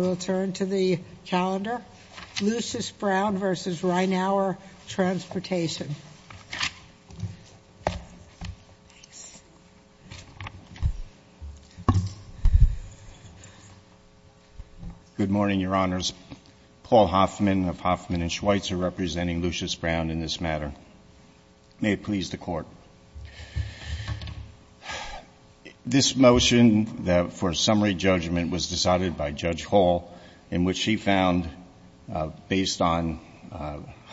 Good morning, Your Honors. Paul Hoffman of Hoffman & Schweitzer representing Lucius Brown in this matter. May it please the Court. This motion for summary judgment was decided by Judge Hall in which she found, based on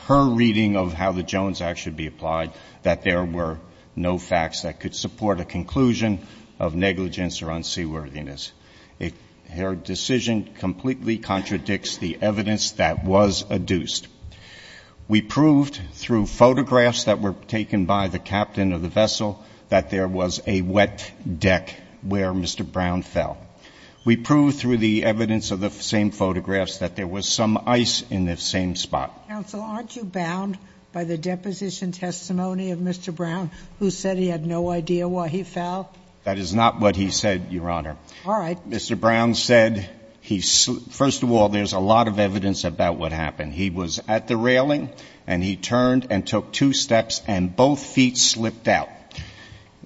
her reading of how the Jones Act should be applied, that there were no facts that could support a conclusion of negligence or unseaworthiness. Her decision completely contradicts the evidence that was adduced. We proved through photographs that were taken by the captain of the vessel that there was a wet deck where Mr. Brown fell. We proved through the evidence of the same photographs that there was some ice in the same spot. Counsel, aren't you bound by the deposition testimony of Mr. Brown who said he had no idea why he fell? That is not what he said, Your Honor. All right. Well, Mr. Brown said he — first of all, there's a lot of evidence about what happened. He was at the railing and he turned and took two steps and both feet slipped out.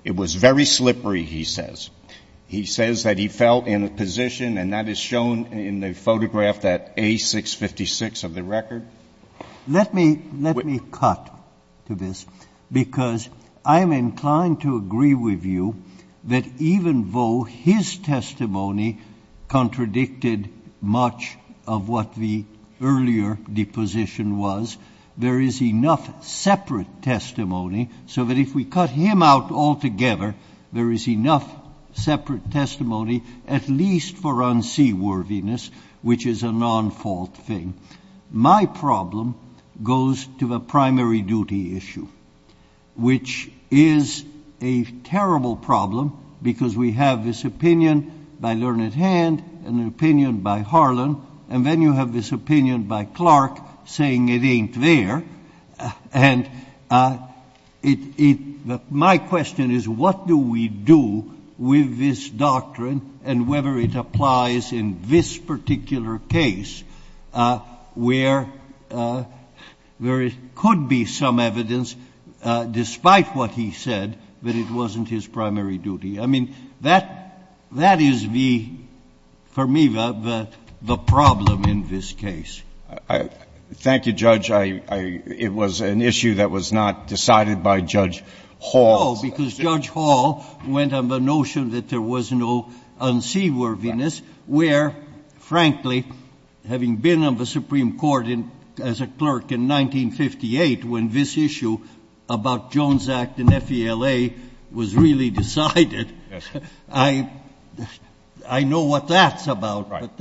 It was very slippery, he says. He says that he fell in a position, and that is shown in the photograph that A656 of the record. Let me cut to this, because I am inclined to agree with you that even though his testimony contradicted much of what the earlier deposition was, there is enough separate testimony so that if we cut him out altogether, there is enough separate testimony at least for unseaworthiness, which is a nonfault thing. My problem goes to the primary duty issue, which is a terrible problem because we have this opinion by Learned Hand and an opinion by Harlan, and then you have this opinion by Clark saying it ain't there. And it — my question is, what do we do with this doctrine and whether it applies in this particular case where there could be some evidence, despite what he said, that it wasn't his primary duty? I mean, that — that is the — for me, the problem in this case. Thank you, Judge. I — it was an issue that was not decided by Judge Hall. No, because Judge Hall went on the notion that there was no unseaworthiness, where, frankly, having been on the Supreme Court as a clerk in 1958 when this issue about Jones Act and FELA was really decided, I — I know what that's about. Right.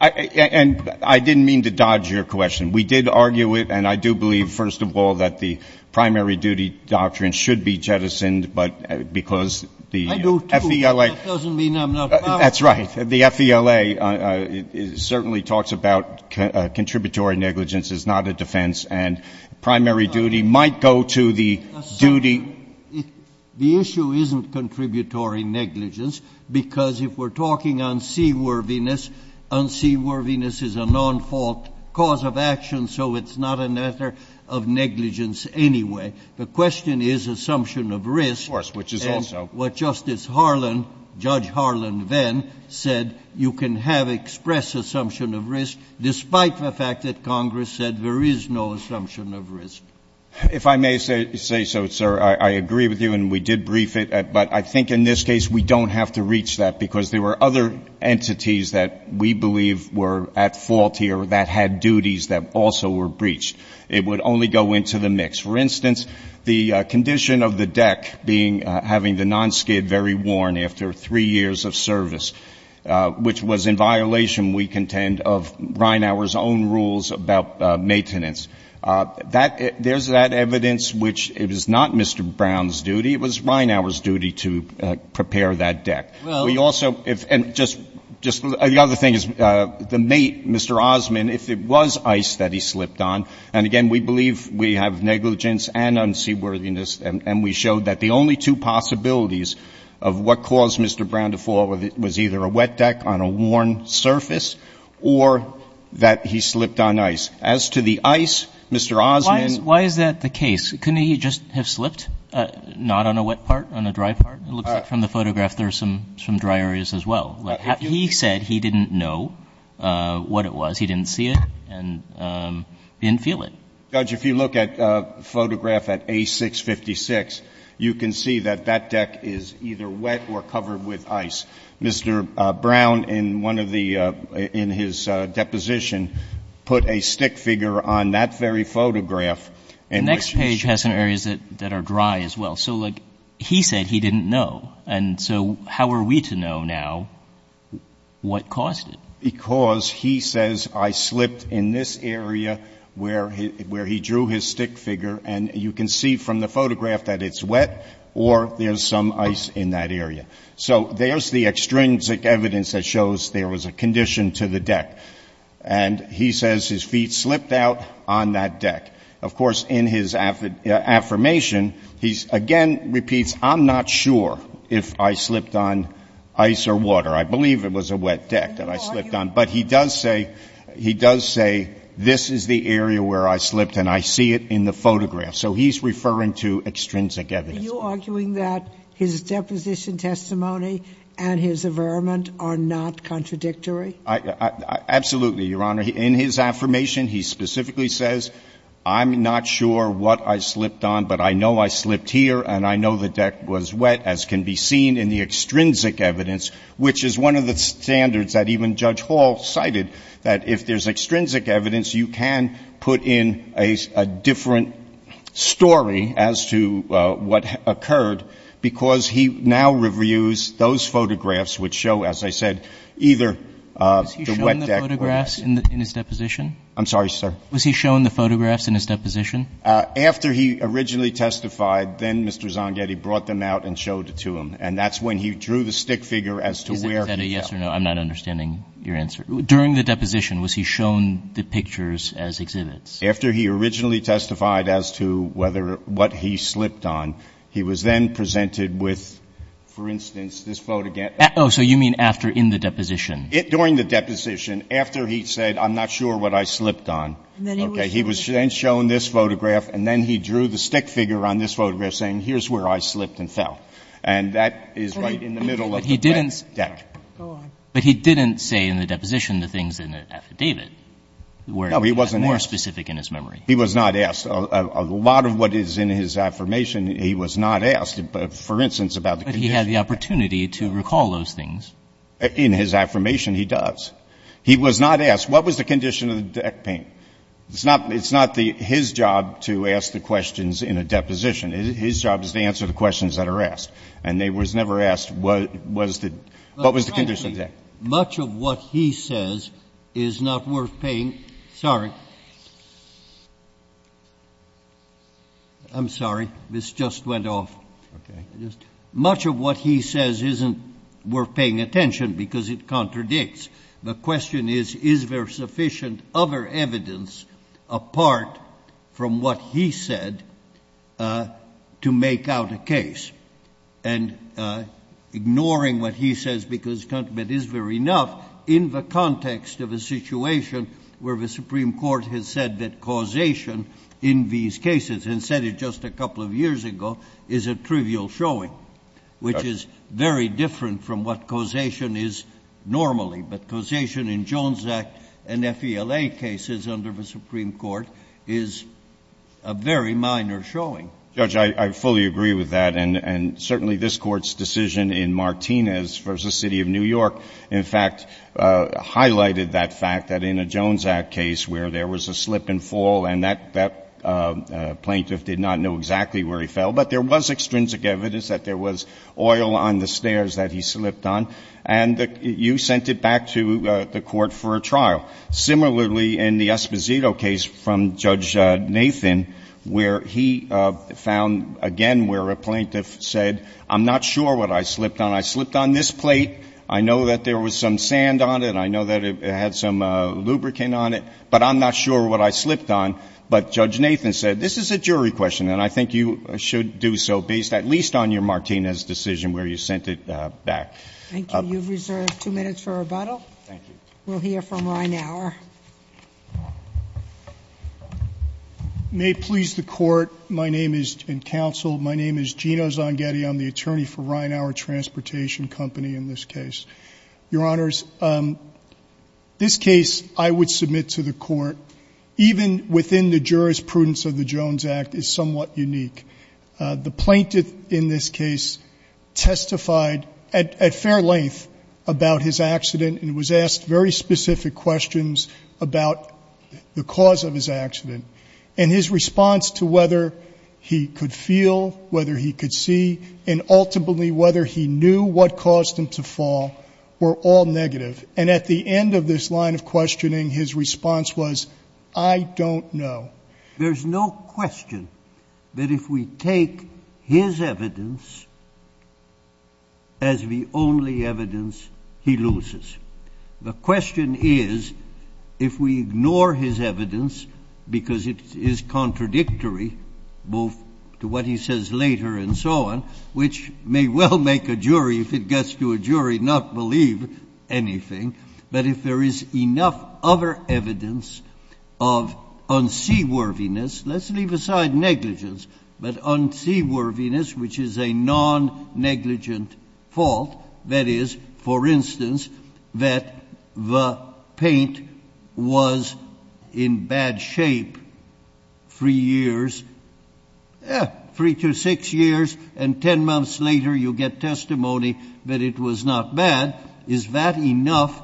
And I didn't mean to dodge your question. We did argue it, and I do believe, first of all, that the primary duty doctrine should be jettisoned, but — because the FELA — I do, too, but that doesn't mean I'm not about it. That's right. The FELA certainly talks about contributory negligence is not a defense, and primary duty might go to the duty — The issue isn't contributory negligence because, if we're talking unseaworthiness, unseaworthiness is a non-fault cause of action, so it's not a matter of negligence anyway. The question is assumption of risk. Of course, which is also — And what Justice Harlan — Judge Harlan then said, you can have express assumption of risk despite the fact that Congress said there is no assumption of risk. If I may say so, sir, I agree with you, and we did brief it, but I think in this case we don't have to reach that because there were other entities that we believe were at fault here that had duties that also were breached. It would only go into the mix. For instance, the condition of the deck being — having the nonskid very worn after three years of service, which was in violation, we contend, of Reinhauer's own rules about maintenance. There's that evidence, which it was not Mr. Brown's duty. It was Reinhauer's duty to prepare that deck. We also — and just — the other thing is the mate, Mr. Osmond, if it was ice that he slipped on, and again, we believe we have negligence and unseaworthiness, and we showed that the only two possibilities of what caused Mr. Brown to fall was either a wet deck on a worn surface or that he slipped on ice. As to the ice, Mr. Osmond — It looks like from the photograph there are some dry areas as well. He said he didn't know what it was. He didn't see it, and he didn't feel it. Judge, if you look at the photograph at A656, you can see that that deck is either wet or covered with ice. Mr. Brown, in one of the — in his deposition, put a stick figure on that very photograph, and — The next page has some areas that are dry as well. So, like, he said he didn't know. And so how are we to know now what caused it? Because he says, I slipped in this area where he drew his stick figure, and you can see from the photograph that it's wet or there's some ice in that area. So there's the extrinsic evidence that shows there was a condition to the deck. And he says his feet slipped out on that deck. Of course, in his affirmation, he again repeats, I'm not sure if I slipped on ice or water. I believe it was a wet deck that I slipped on. But he does say — he does say, this is the area where I slipped, and I see it in the photograph. So he's referring to extrinsic evidence. Are you arguing that his deposition testimony and his averment are not contradictory? Absolutely, Your Honor. In his affirmation, he specifically says, I'm not sure what I slipped on, but I know I slipped here, and I know the deck was wet, as can be seen in the extrinsic evidence, which is one of the standards that even Judge Hall cited, that if there's extrinsic evidence, you can put in a different story as to what occurred, because he now reviews those photographs which show, as I said, either a wet deck or the wet deck or ice. Was he shown the photographs in his deposition? I'm sorry, sir? Was he shown the photographs in his deposition? After he originally testified, then Mr. Zangetti brought them out and showed it to him. And that's when he drew the stick figure as to where he fell. Is that a yes or no? I'm not understanding your answer. During the deposition, was he shown the pictures as exhibits? After he originally testified as to whether — what he slipped on, he was then presented with, for instance, this photograph — Oh, so you mean after, in the deposition? During the deposition, after he said, I'm not sure what I slipped on, okay, he was then shown this photograph, and then he drew the stick figure on this photograph saying, here's where I slipped and fell. And that is right in the middle of the wet deck. But he didn't — go on. But he didn't say in the deposition the things in the affidavit were — No, he wasn't asked. — more specific in his memory. He was not asked. A lot of what is in his affirmation, he was not asked, for instance, about the condition — But he had the opportunity to recall those things. In his affirmation, he does. He was not asked, what was the condition of the deck paint? It's not his job to ask the questions in a deposition. His job is to answer the questions that are asked. And they was never asked, what was the — what was the condition of the deck? Much of what he says is not worth paying — sorry. I'm sorry. This just went off. Okay. Much of what he says isn't worth paying attention because it contradicts. The question is, is there sufficient other evidence apart from what he said to make out a case? And ignoring what he says because — but is there enough in the context of a situation where the Supreme Court has said that causation in these cases, and said it just a couple of years ago, is a trivial showing, which is very different from what causation is normally. But causation in Jones Act and FELA cases under the Supreme Court is a very minor showing. Judge, I fully agree with that. And certainly, this Court's decision in Martinez v. City of New York, in fact, highlighted that fact that in a Jones Act case where there was a slip and fall, and that plaintiff did not know exactly where he fell, but there was extrinsic evidence that there was oil on the stairs that he slipped on. And you sent it back to the Court for a trial. Similarly, in the Esposito case from Judge Nathan, where he found, again, where a plaintiff said, I'm not sure what I slipped on. I slipped on this plate. I know that there was some sand on it. I I'm not sure what I slipped on. But Judge Nathan said, this is a jury question. And I think you should do so based at least on your Martinez decision where you sent it back. Thank you. You've reserved two minutes for rebuttal. Thank you. We'll hear from Reinhauer. May it please the Court, my name is, and counsel, my name is Gino Zangetti. I'm the attorney for Reinhauer Transportation Company in this case. Your Honors, this case I would submit to the Court, even within the jurisprudence of the Jones Act, is somewhat unique. The plaintiff in this case testified at fair length about his accident, and was asked very specific questions about the cause of his accident. And his response to whether he could feel, whether he could see, and ultimately whether he knew what caused him to fall were all negative. And at the end of this line of questioning, his response was, I don't know. There's no question that if we take his evidence as the only evidence he loses. The question is, if we ignore his evidence, because it is contradictory, both to what he says later and so on. Which may well make a jury, if it gets to a jury, not believe anything. But if there is enough other evidence of unseaworthiness, let's leave aside negligence, but unseaworthiness, which is a non-negligent fault. That is, for instance, that the paint was in bad shape three years, three to six years, and ten months later you get testimony that it was not bad. Is that enough?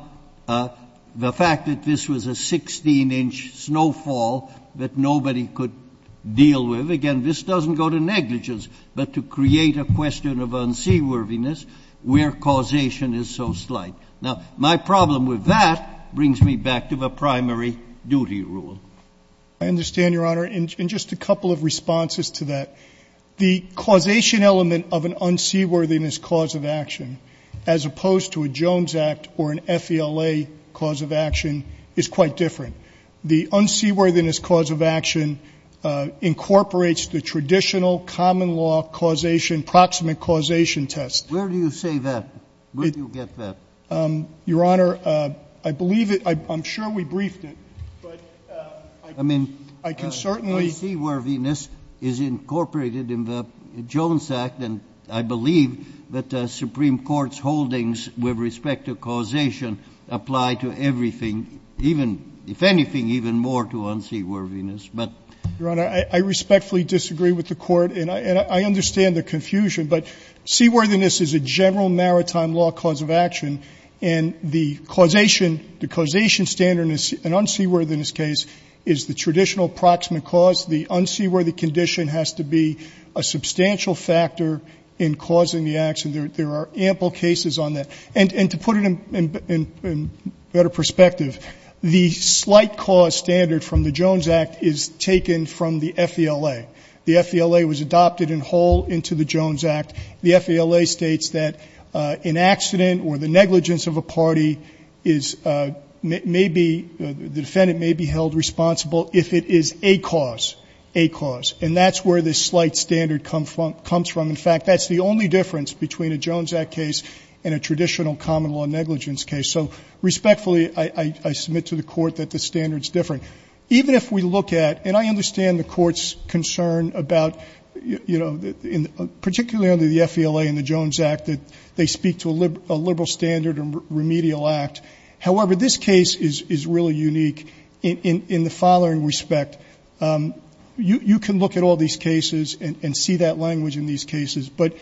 The fact that this was a 16-inch snowfall that nobody could deal with. Again, this doesn't go to negligence, but to create a question of unseaworthiness, where causation is so slight. Now, my problem with that brings me back to the primary duty rule. I understand, Your Honor, in just a couple of responses to that. The causation element of an unseaworthiness cause of action, as opposed to a Jones Act or an FELA cause of action, is quite different. The unseaworthiness cause of action incorporates the traditional common law causation, proximate causation test. Where do you say that? Where do you get that? Your Honor, I believe it. I'm sure we briefed it, but I can certainly— Unseaworthiness is incorporated in the Jones Act, and I believe that the Supreme Court's holdings with respect to causation apply to everything, even, if anything, even more to unseaworthiness, but— Your Honor, I respectfully disagree with the Court, and I understand the confusion, but seaworthiness is a general maritime law cause of action, and the causation—the causation standard in an unseaworthiness case is the traditional proximate cause. The unseaworthy condition has to be a substantial factor in causing the action. There are ample cases on that. And to put it in better perspective, the slight cause standard from the Jones Act is taken from the FELA. The FELA was adopted in whole into the Jones Act. The FELA states that an accident or the negligence of a party is—may be—the defendant may be held responsible if it is a cause, a cause. And that's where this slight standard comes from. In fact, that's the only difference between a Jones Act case and a traditional common-law negligence case. So respectfully, I submit to the Court that the standard's different. Even if we look at—and I understand the Court's concern about, you know, particularly under the FELA and the Jones Act, that they speak to a liberal standard or remedial act. However, this case is really unique in the following respect. You can look at all these cases and see that language in these cases, but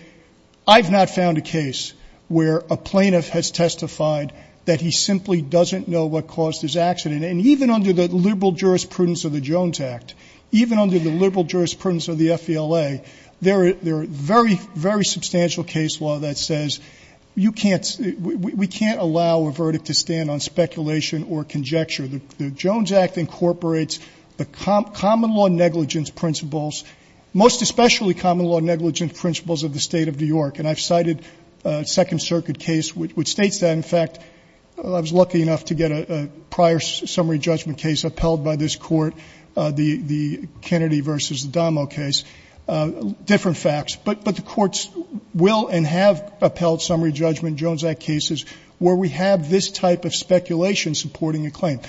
I've not found a case where a plaintiff has testified that he simply doesn't know what caused his accident. And even under the liberal jurisprudence of the Jones Act, even under the liberal jurisprudence of the FELA, there are very, very substantial case law that says you can't—we can't allow a verdict to stand on speculation or conjecture. The Jones Act incorporates the common-law negligence principles, most especially common-law negligence principles of the State of New York. And I've cited a Second Circuit case which states that. In fact, I was lucky enough to get a prior summary judgment case upheld by this Court, the Kennedy v. Adamo case, different facts. But the Courts will and have upheld summary judgment Jones Act cases where we have this type of speculation supporting a claim.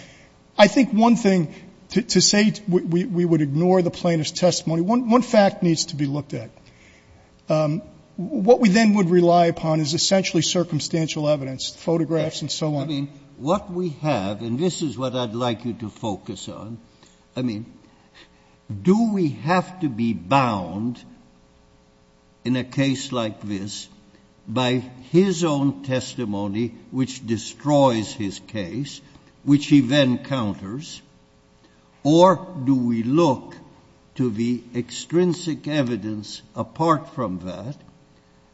I think one thing, to say we would ignore the plaintiff's testimony, one fact needs to be looked at. What we then would rely upon is essentially circumstantial evidence, photographs and so on. I mean, what we have, and this is what I'd like you to focus on, I mean, do we have to be bound in a case like this by his own testimony which destroys his case, which he then counters, or do we look to the extrinsic evidence apart from that,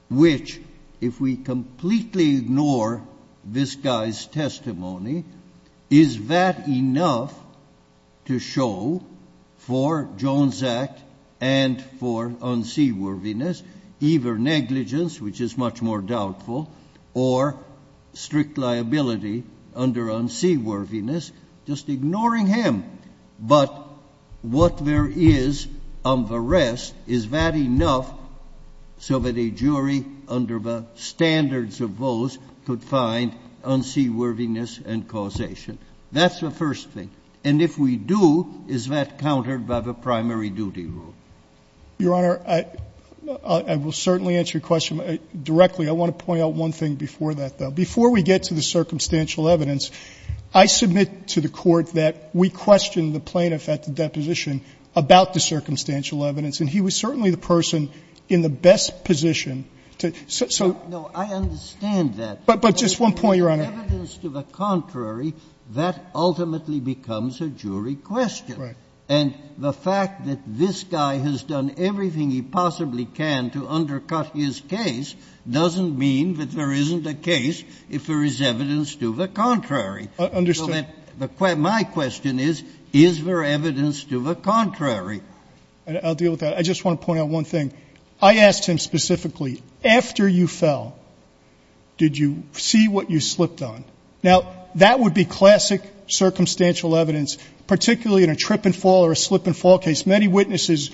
which if we completely ignore this guy's testimony, is that enough to show for Jones Act and for unseaworthiness, either negligence, which is much more doubtful, or strict liability under unseaworthiness, just ignoring him? But what there is on the rest, is that enough so that a jury under the standards of those could find unseaworthiness and causation? That's the first thing. And if we do, is that countered by the primary duty rule? Your Honor, I will certainly answer your question directly. I want to point out one thing before that, though. Before we get to the circumstantial evidence, I submit to the Court that we questioned the plaintiff at the deposition about the circumstantial evidence, and he was certainly the person in the best position to so so. No, I understand that. But just one point, Your Honor. Evidence to the contrary, that ultimately becomes a jury question. Right. And the fact that this guy has done everything he possibly can to undercut his case doesn't mean that there isn't a case if there is evidence to the contrary. I understand. So my question is, is there evidence to the contrary? I'll deal with that. I just want to point out one thing. I asked him specifically, after you fell, did you see what you slipped on? Now, that would be classic circumstantial evidence, particularly in a trip and fall or a slip and fall case. Many witnesses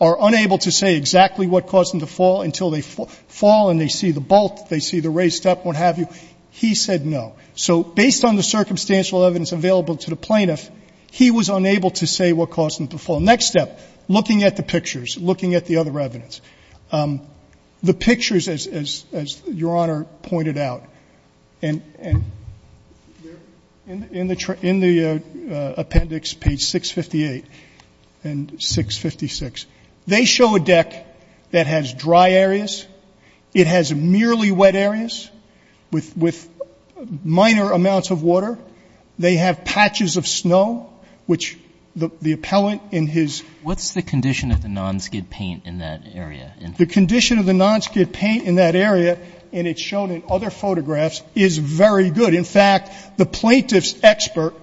are unable to say exactly what caused them to fall until they fall and they see the bolt, they see the raised step, what have you. He said no. So based on the circumstantial evidence available to the plaintiff, he was unable to say what caused him to fall. Next step, looking at the pictures, looking at the other evidence. The pictures, as Your Honor pointed out, and in the appendix, page 658, and so forth, and page 656, they show a deck that has dry areas. It has merely wet areas with minor amounts of water. They have patches of snow, which the appellant in his ---- What's the condition of the nonskid paint in that area? The condition of the nonskid paint in that area, and it's shown in other photographs, is very good. In fact, the plaintiff's expert,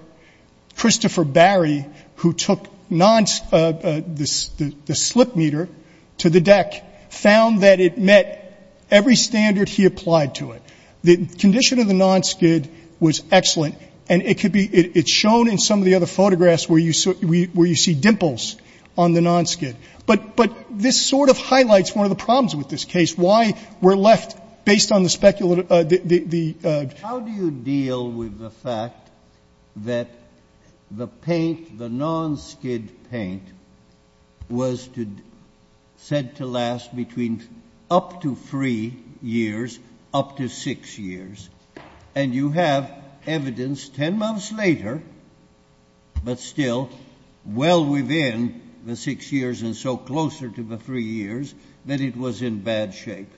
Christopher Barry, who took the slip meter to the deck, found that it met every standard he applied to it. The condition of the nonskid was excellent, and it could be ---- it's shown in some of the other photographs where you see dimples on the nonskid. But this sort of highlights one of the problems with this case, why we're left, based on the speculative ---- How do you deal with the fact that the paint, the nonskid paint, was said to last between up to three years, up to six years, and you have evidence 10 months later, but still well within the six years and so closer to the three years, that it was in bad shape?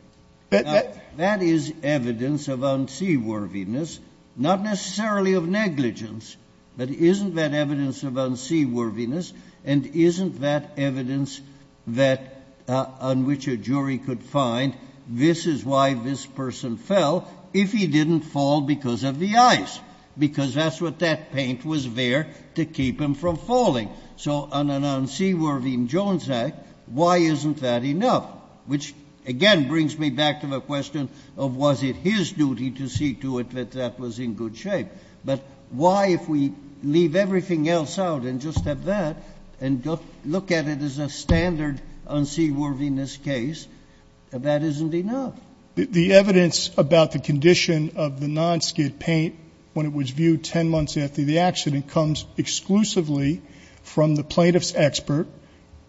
That is evidence of unseaworthiness, not necessarily of negligence. But isn't that evidence of unseaworthiness? And isn't that evidence on which a jury could find, this is why this person fell if he didn't fall because of the ice, because that's what that paint was there to keep him from falling. So on an unseaworthy Jones Act, why isn't that enough? Which, again, brings me back to the question of was it his duty to see to it that that was in good shape? But why, if we leave everything else out and just have that and look at it as a standard unseaworthiness case, that isn't enough? The evidence about the condition of the nonskid paint when it was viewed 10 months after the accident comes exclusively from the plaintiff's expert.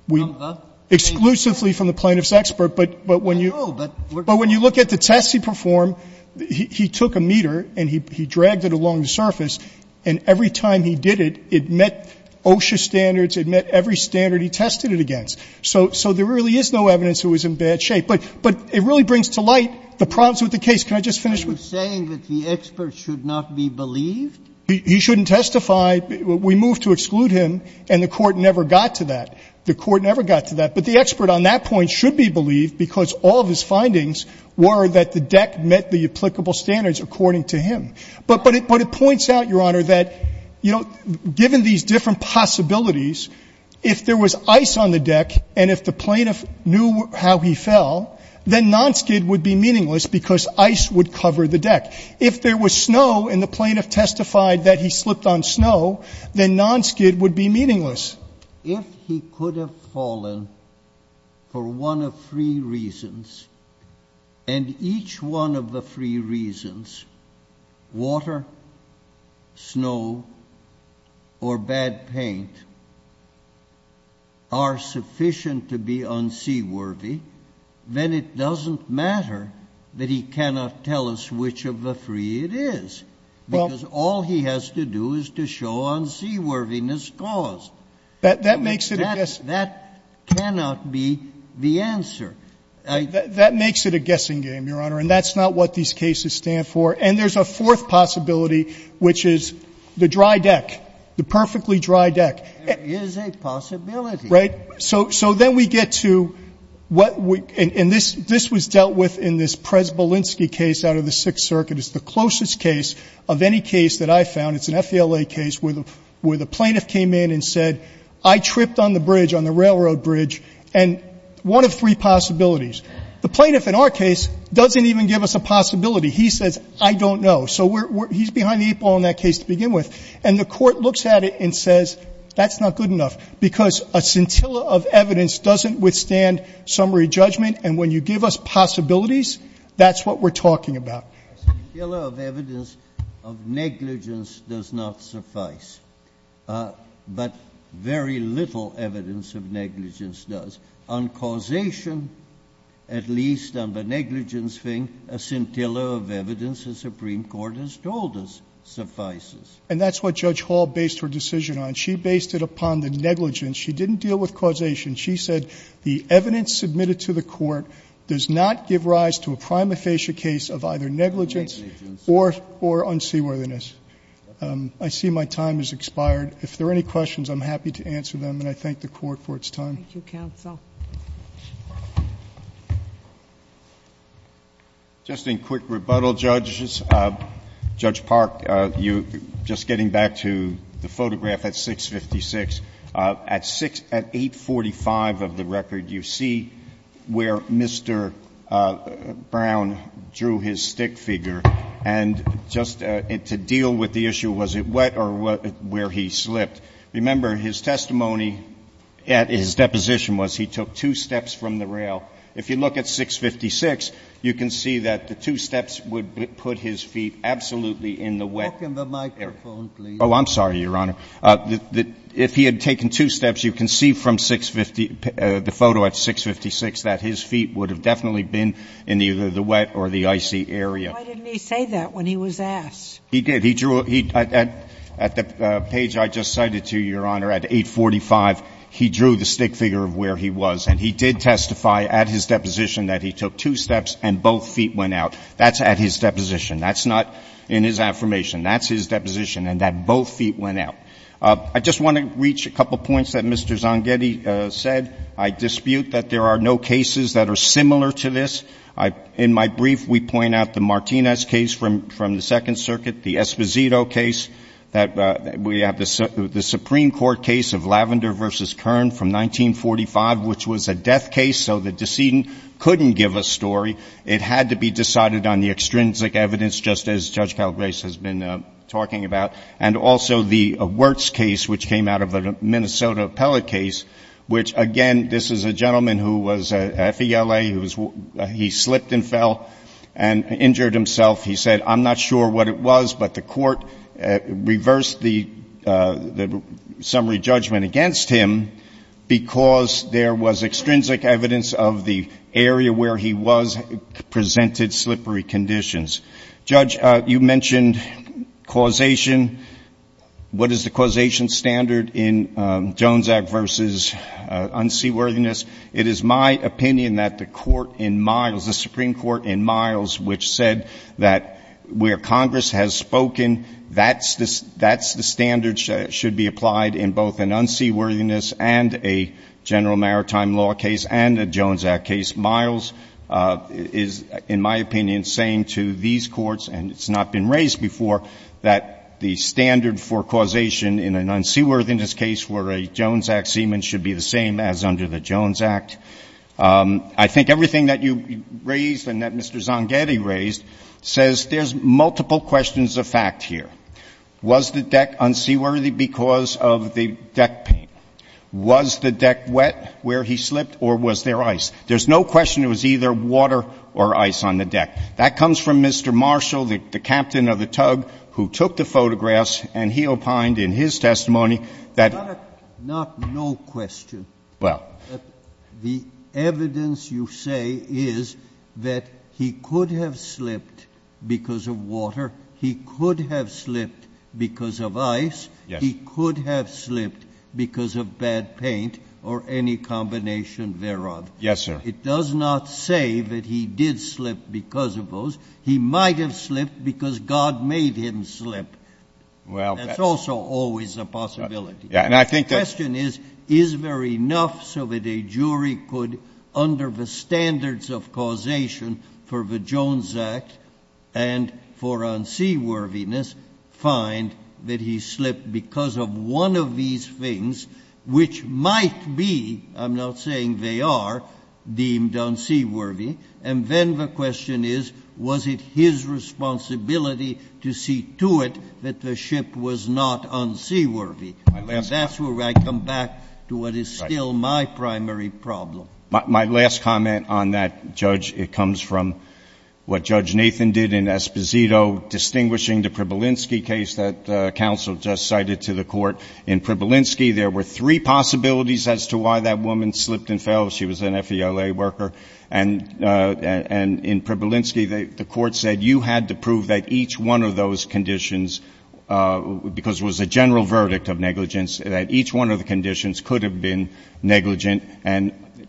We don't know that. Exclusively from the plaintiff's expert, but when you look at the tests he performed, he took a meter and he dragged it along the surface, and every time he did it, it met OSHA standards, it met every standard he tested it against. So there really is no evidence it was in bad shape. But it really brings to light the problems with the case. Can I just finish with you? Are you saying that the expert should not be believed? He shouldn't testify. We moved to exclude him, and the Court never got to that. The Court never got to that. But the expert on that point should be believed, because all of his findings were that the deck met the applicable standards according to him. But it points out, Your Honor, that, you know, given these different possibilities, if there was ice on the deck and if the plaintiff knew how he fell, then nonskid would be meaningless because ice would cover the deck. If there was snow and the plaintiff testified that he slipped on snow, then nonskid would be meaningless. If he could have fallen for one of three reasons, and each one of the three reasons, water, snow, or bad paint, are sufficient to be unseaworthy, then it doesn't matter that he cannot tell us which of the three it is, because all he has to do is to show unseaworthiness caused. That makes it a guess. That cannot be the answer. That makes it a guessing game, Your Honor. And that's not what these cases stand for. And there's a fourth possibility, which is the dry deck, the perfectly dry deck. There is a possibility. Right? So then we get to what we – and this was dealt with in this Prez-Bolinski case out of the Sixth Circuit. It's the closest case of any case that I've found. It's an FELA case where the plaintiff came in and said, I tripped on the bridge, on the railroad bridge, and one of three possibilities. The plaintiff in our case doesn't even give us a possibility. He says, I don't know. So we're – he's behind the eight ball in that case to begin with. And the Court looks at it and says, that's not good enough, because a scintilla of evidence doesn't withstand summary judgment. And when you give us possibilities, that's what we're talking about. A scintilla of evidence of negligence does not suffice. But very little evidence of negligence does. On causation, at least on the negligence thing, a scintilla of evidence, the Supreme Court has told us, suffices. And that's what Judge Hall based her decision on. She based it upon the negligence. She didn't deal with causation. She said the evidence submitted to the Court does not give rise to a prima facie case of either negligence or unseaworthiness. I see my time has expired. If there are any questions, I'm happy to answer them. And I thank the Court for its time. Thank you, counsel. Just in quick rebuttal, Judges, Judge Park, you – just getting back to the photograph at 656, at 845 of the record, you see where Mr. Brown drew his stick figure. And just to deal with the issue, was it wet or where he slipped, remember, his testimony at his deposition was he took two steps from the rail. If you look at 656, you can see that the two steps would put his feet absolutely in the wet area. Oh, I'm sorry, Your Honor. If he had taken two steps, you can see from 650 – the photo at 656 that his feet would have definitely been in either the wet or the icy area. Why didn't he say that when he was asked? He did. He drew – at the page I just cited to you, Your Honor, at 845, he drew the stick figure of where he was. And he did testify at his deposition that he took two steps and both feet went out. That's at his deposition. That's not in his affirmation. That's his deposition, and that both feet went out. I just want to reach a couple points that Mr. Zanghetti said. I dispute that there are no cases that are similar to this. In my brief, we point out the Martinez case from the Second Circuit, the Esposito case, that we have the Supreme Court case of Lavender v. Kern from 1945, which was a death case, so the decedent couldn't give a story. It had to be decided on the extrinsic evidence, just as Judge Calgrace has been talking about. And also the Wirtz case, which came out of the Minnesota appellate case, which, again, this is a gentleman who was a FELA, he slipped and fell and injured himself. He said, I'm not sure what it was, but the Court reversed the summary judgment against him because there was extrinsic evidence of the area where he was presented slippery conditions. Judge, you mentioned causation. What is the causation standard in Jones Act v. Unseaworthiness? It is my opinion that the Supreme Court in Miles, which said that where Congress has and a General Maritime Law case and a Jones Act case, Miles is, in my opinion, saying to these courts, and it's not been raised before, that the standard for causation in an unseaworthiness case where a Jones Act seaman should be the same as under the Jones Act. I think everything that you raised and that Mr. Zangetti raised says there's multiple questions of fact here. Was the deck unseaworthy because of the deck paint? Was the deck wet where he slipped, or was there ice? There's no question it was either water or ice on the deck. That comes from Mr. Marshall, the captain of the tug who took the photographs, and he opined in his testimony that the evidence you say is that he could have slipped because of water, he could have slipped because of ice, he could have slipped because of bad paint or any combination thereof. Yes, sir. It does not say that he did slip because of those. He might have slipped because God made him slip. Well, that's also always a possibility. Yeah, and I think that The question is, is there enough so that a jury could, under the standards of causation for the Jones Act and for unseaworthiness, find that he slipped because of one of these things, which might be, I'm not saying they are, deemed unseaworthy, and then the question is, was it his responsibility to see to it that the ship was not unseaworthy? That's where I come back to what is still my primary problem. My last comment on that, Judge, it comes from what Judge Nathan did in Esposito, distinguishing the Przybylinski case that counsel just cited to the court. In Przybylinski, there were three possibilities as to why that woman slipped and fell. She was an FELA worker. And in Przybylinski, the court said you had to prove that each one of those conditions, because it was a general verdict of negligence, that each one of the conditions could have been negligence.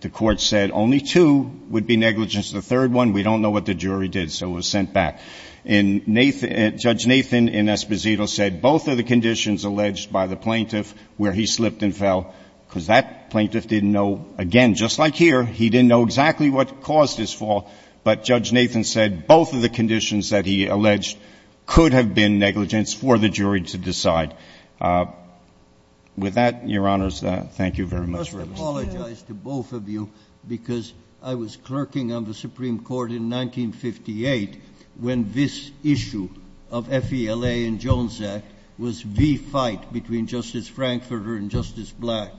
The court said only two would be negligence. The third one, we don't know what the jury did, so it was sent back. And Judge Nathan in Esposito said both of the conditions alleged by the plaintiff where he slipped and fell, because that plaintiff didn't know, again, just like here, he didn't know exactly what caused his fall, but Judge Nathan said both of the conditions that he alleged could have been negligence for the jury to decide. With that, Your Honors, thank you very much for listening. I must apologize to both of you, because I was clerking on the Supreme Court in 1958 when this issue of FELA and Jones Act was the fight between Justice Frankfurter and Justice Black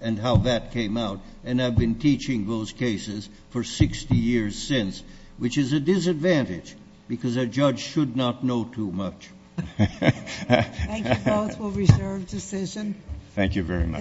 and how that came out. And I've been teaching those cases for 60 years since, which is a disadvantage, because a judge should not know too much. Thank you both for reserved decision. Thank you very much.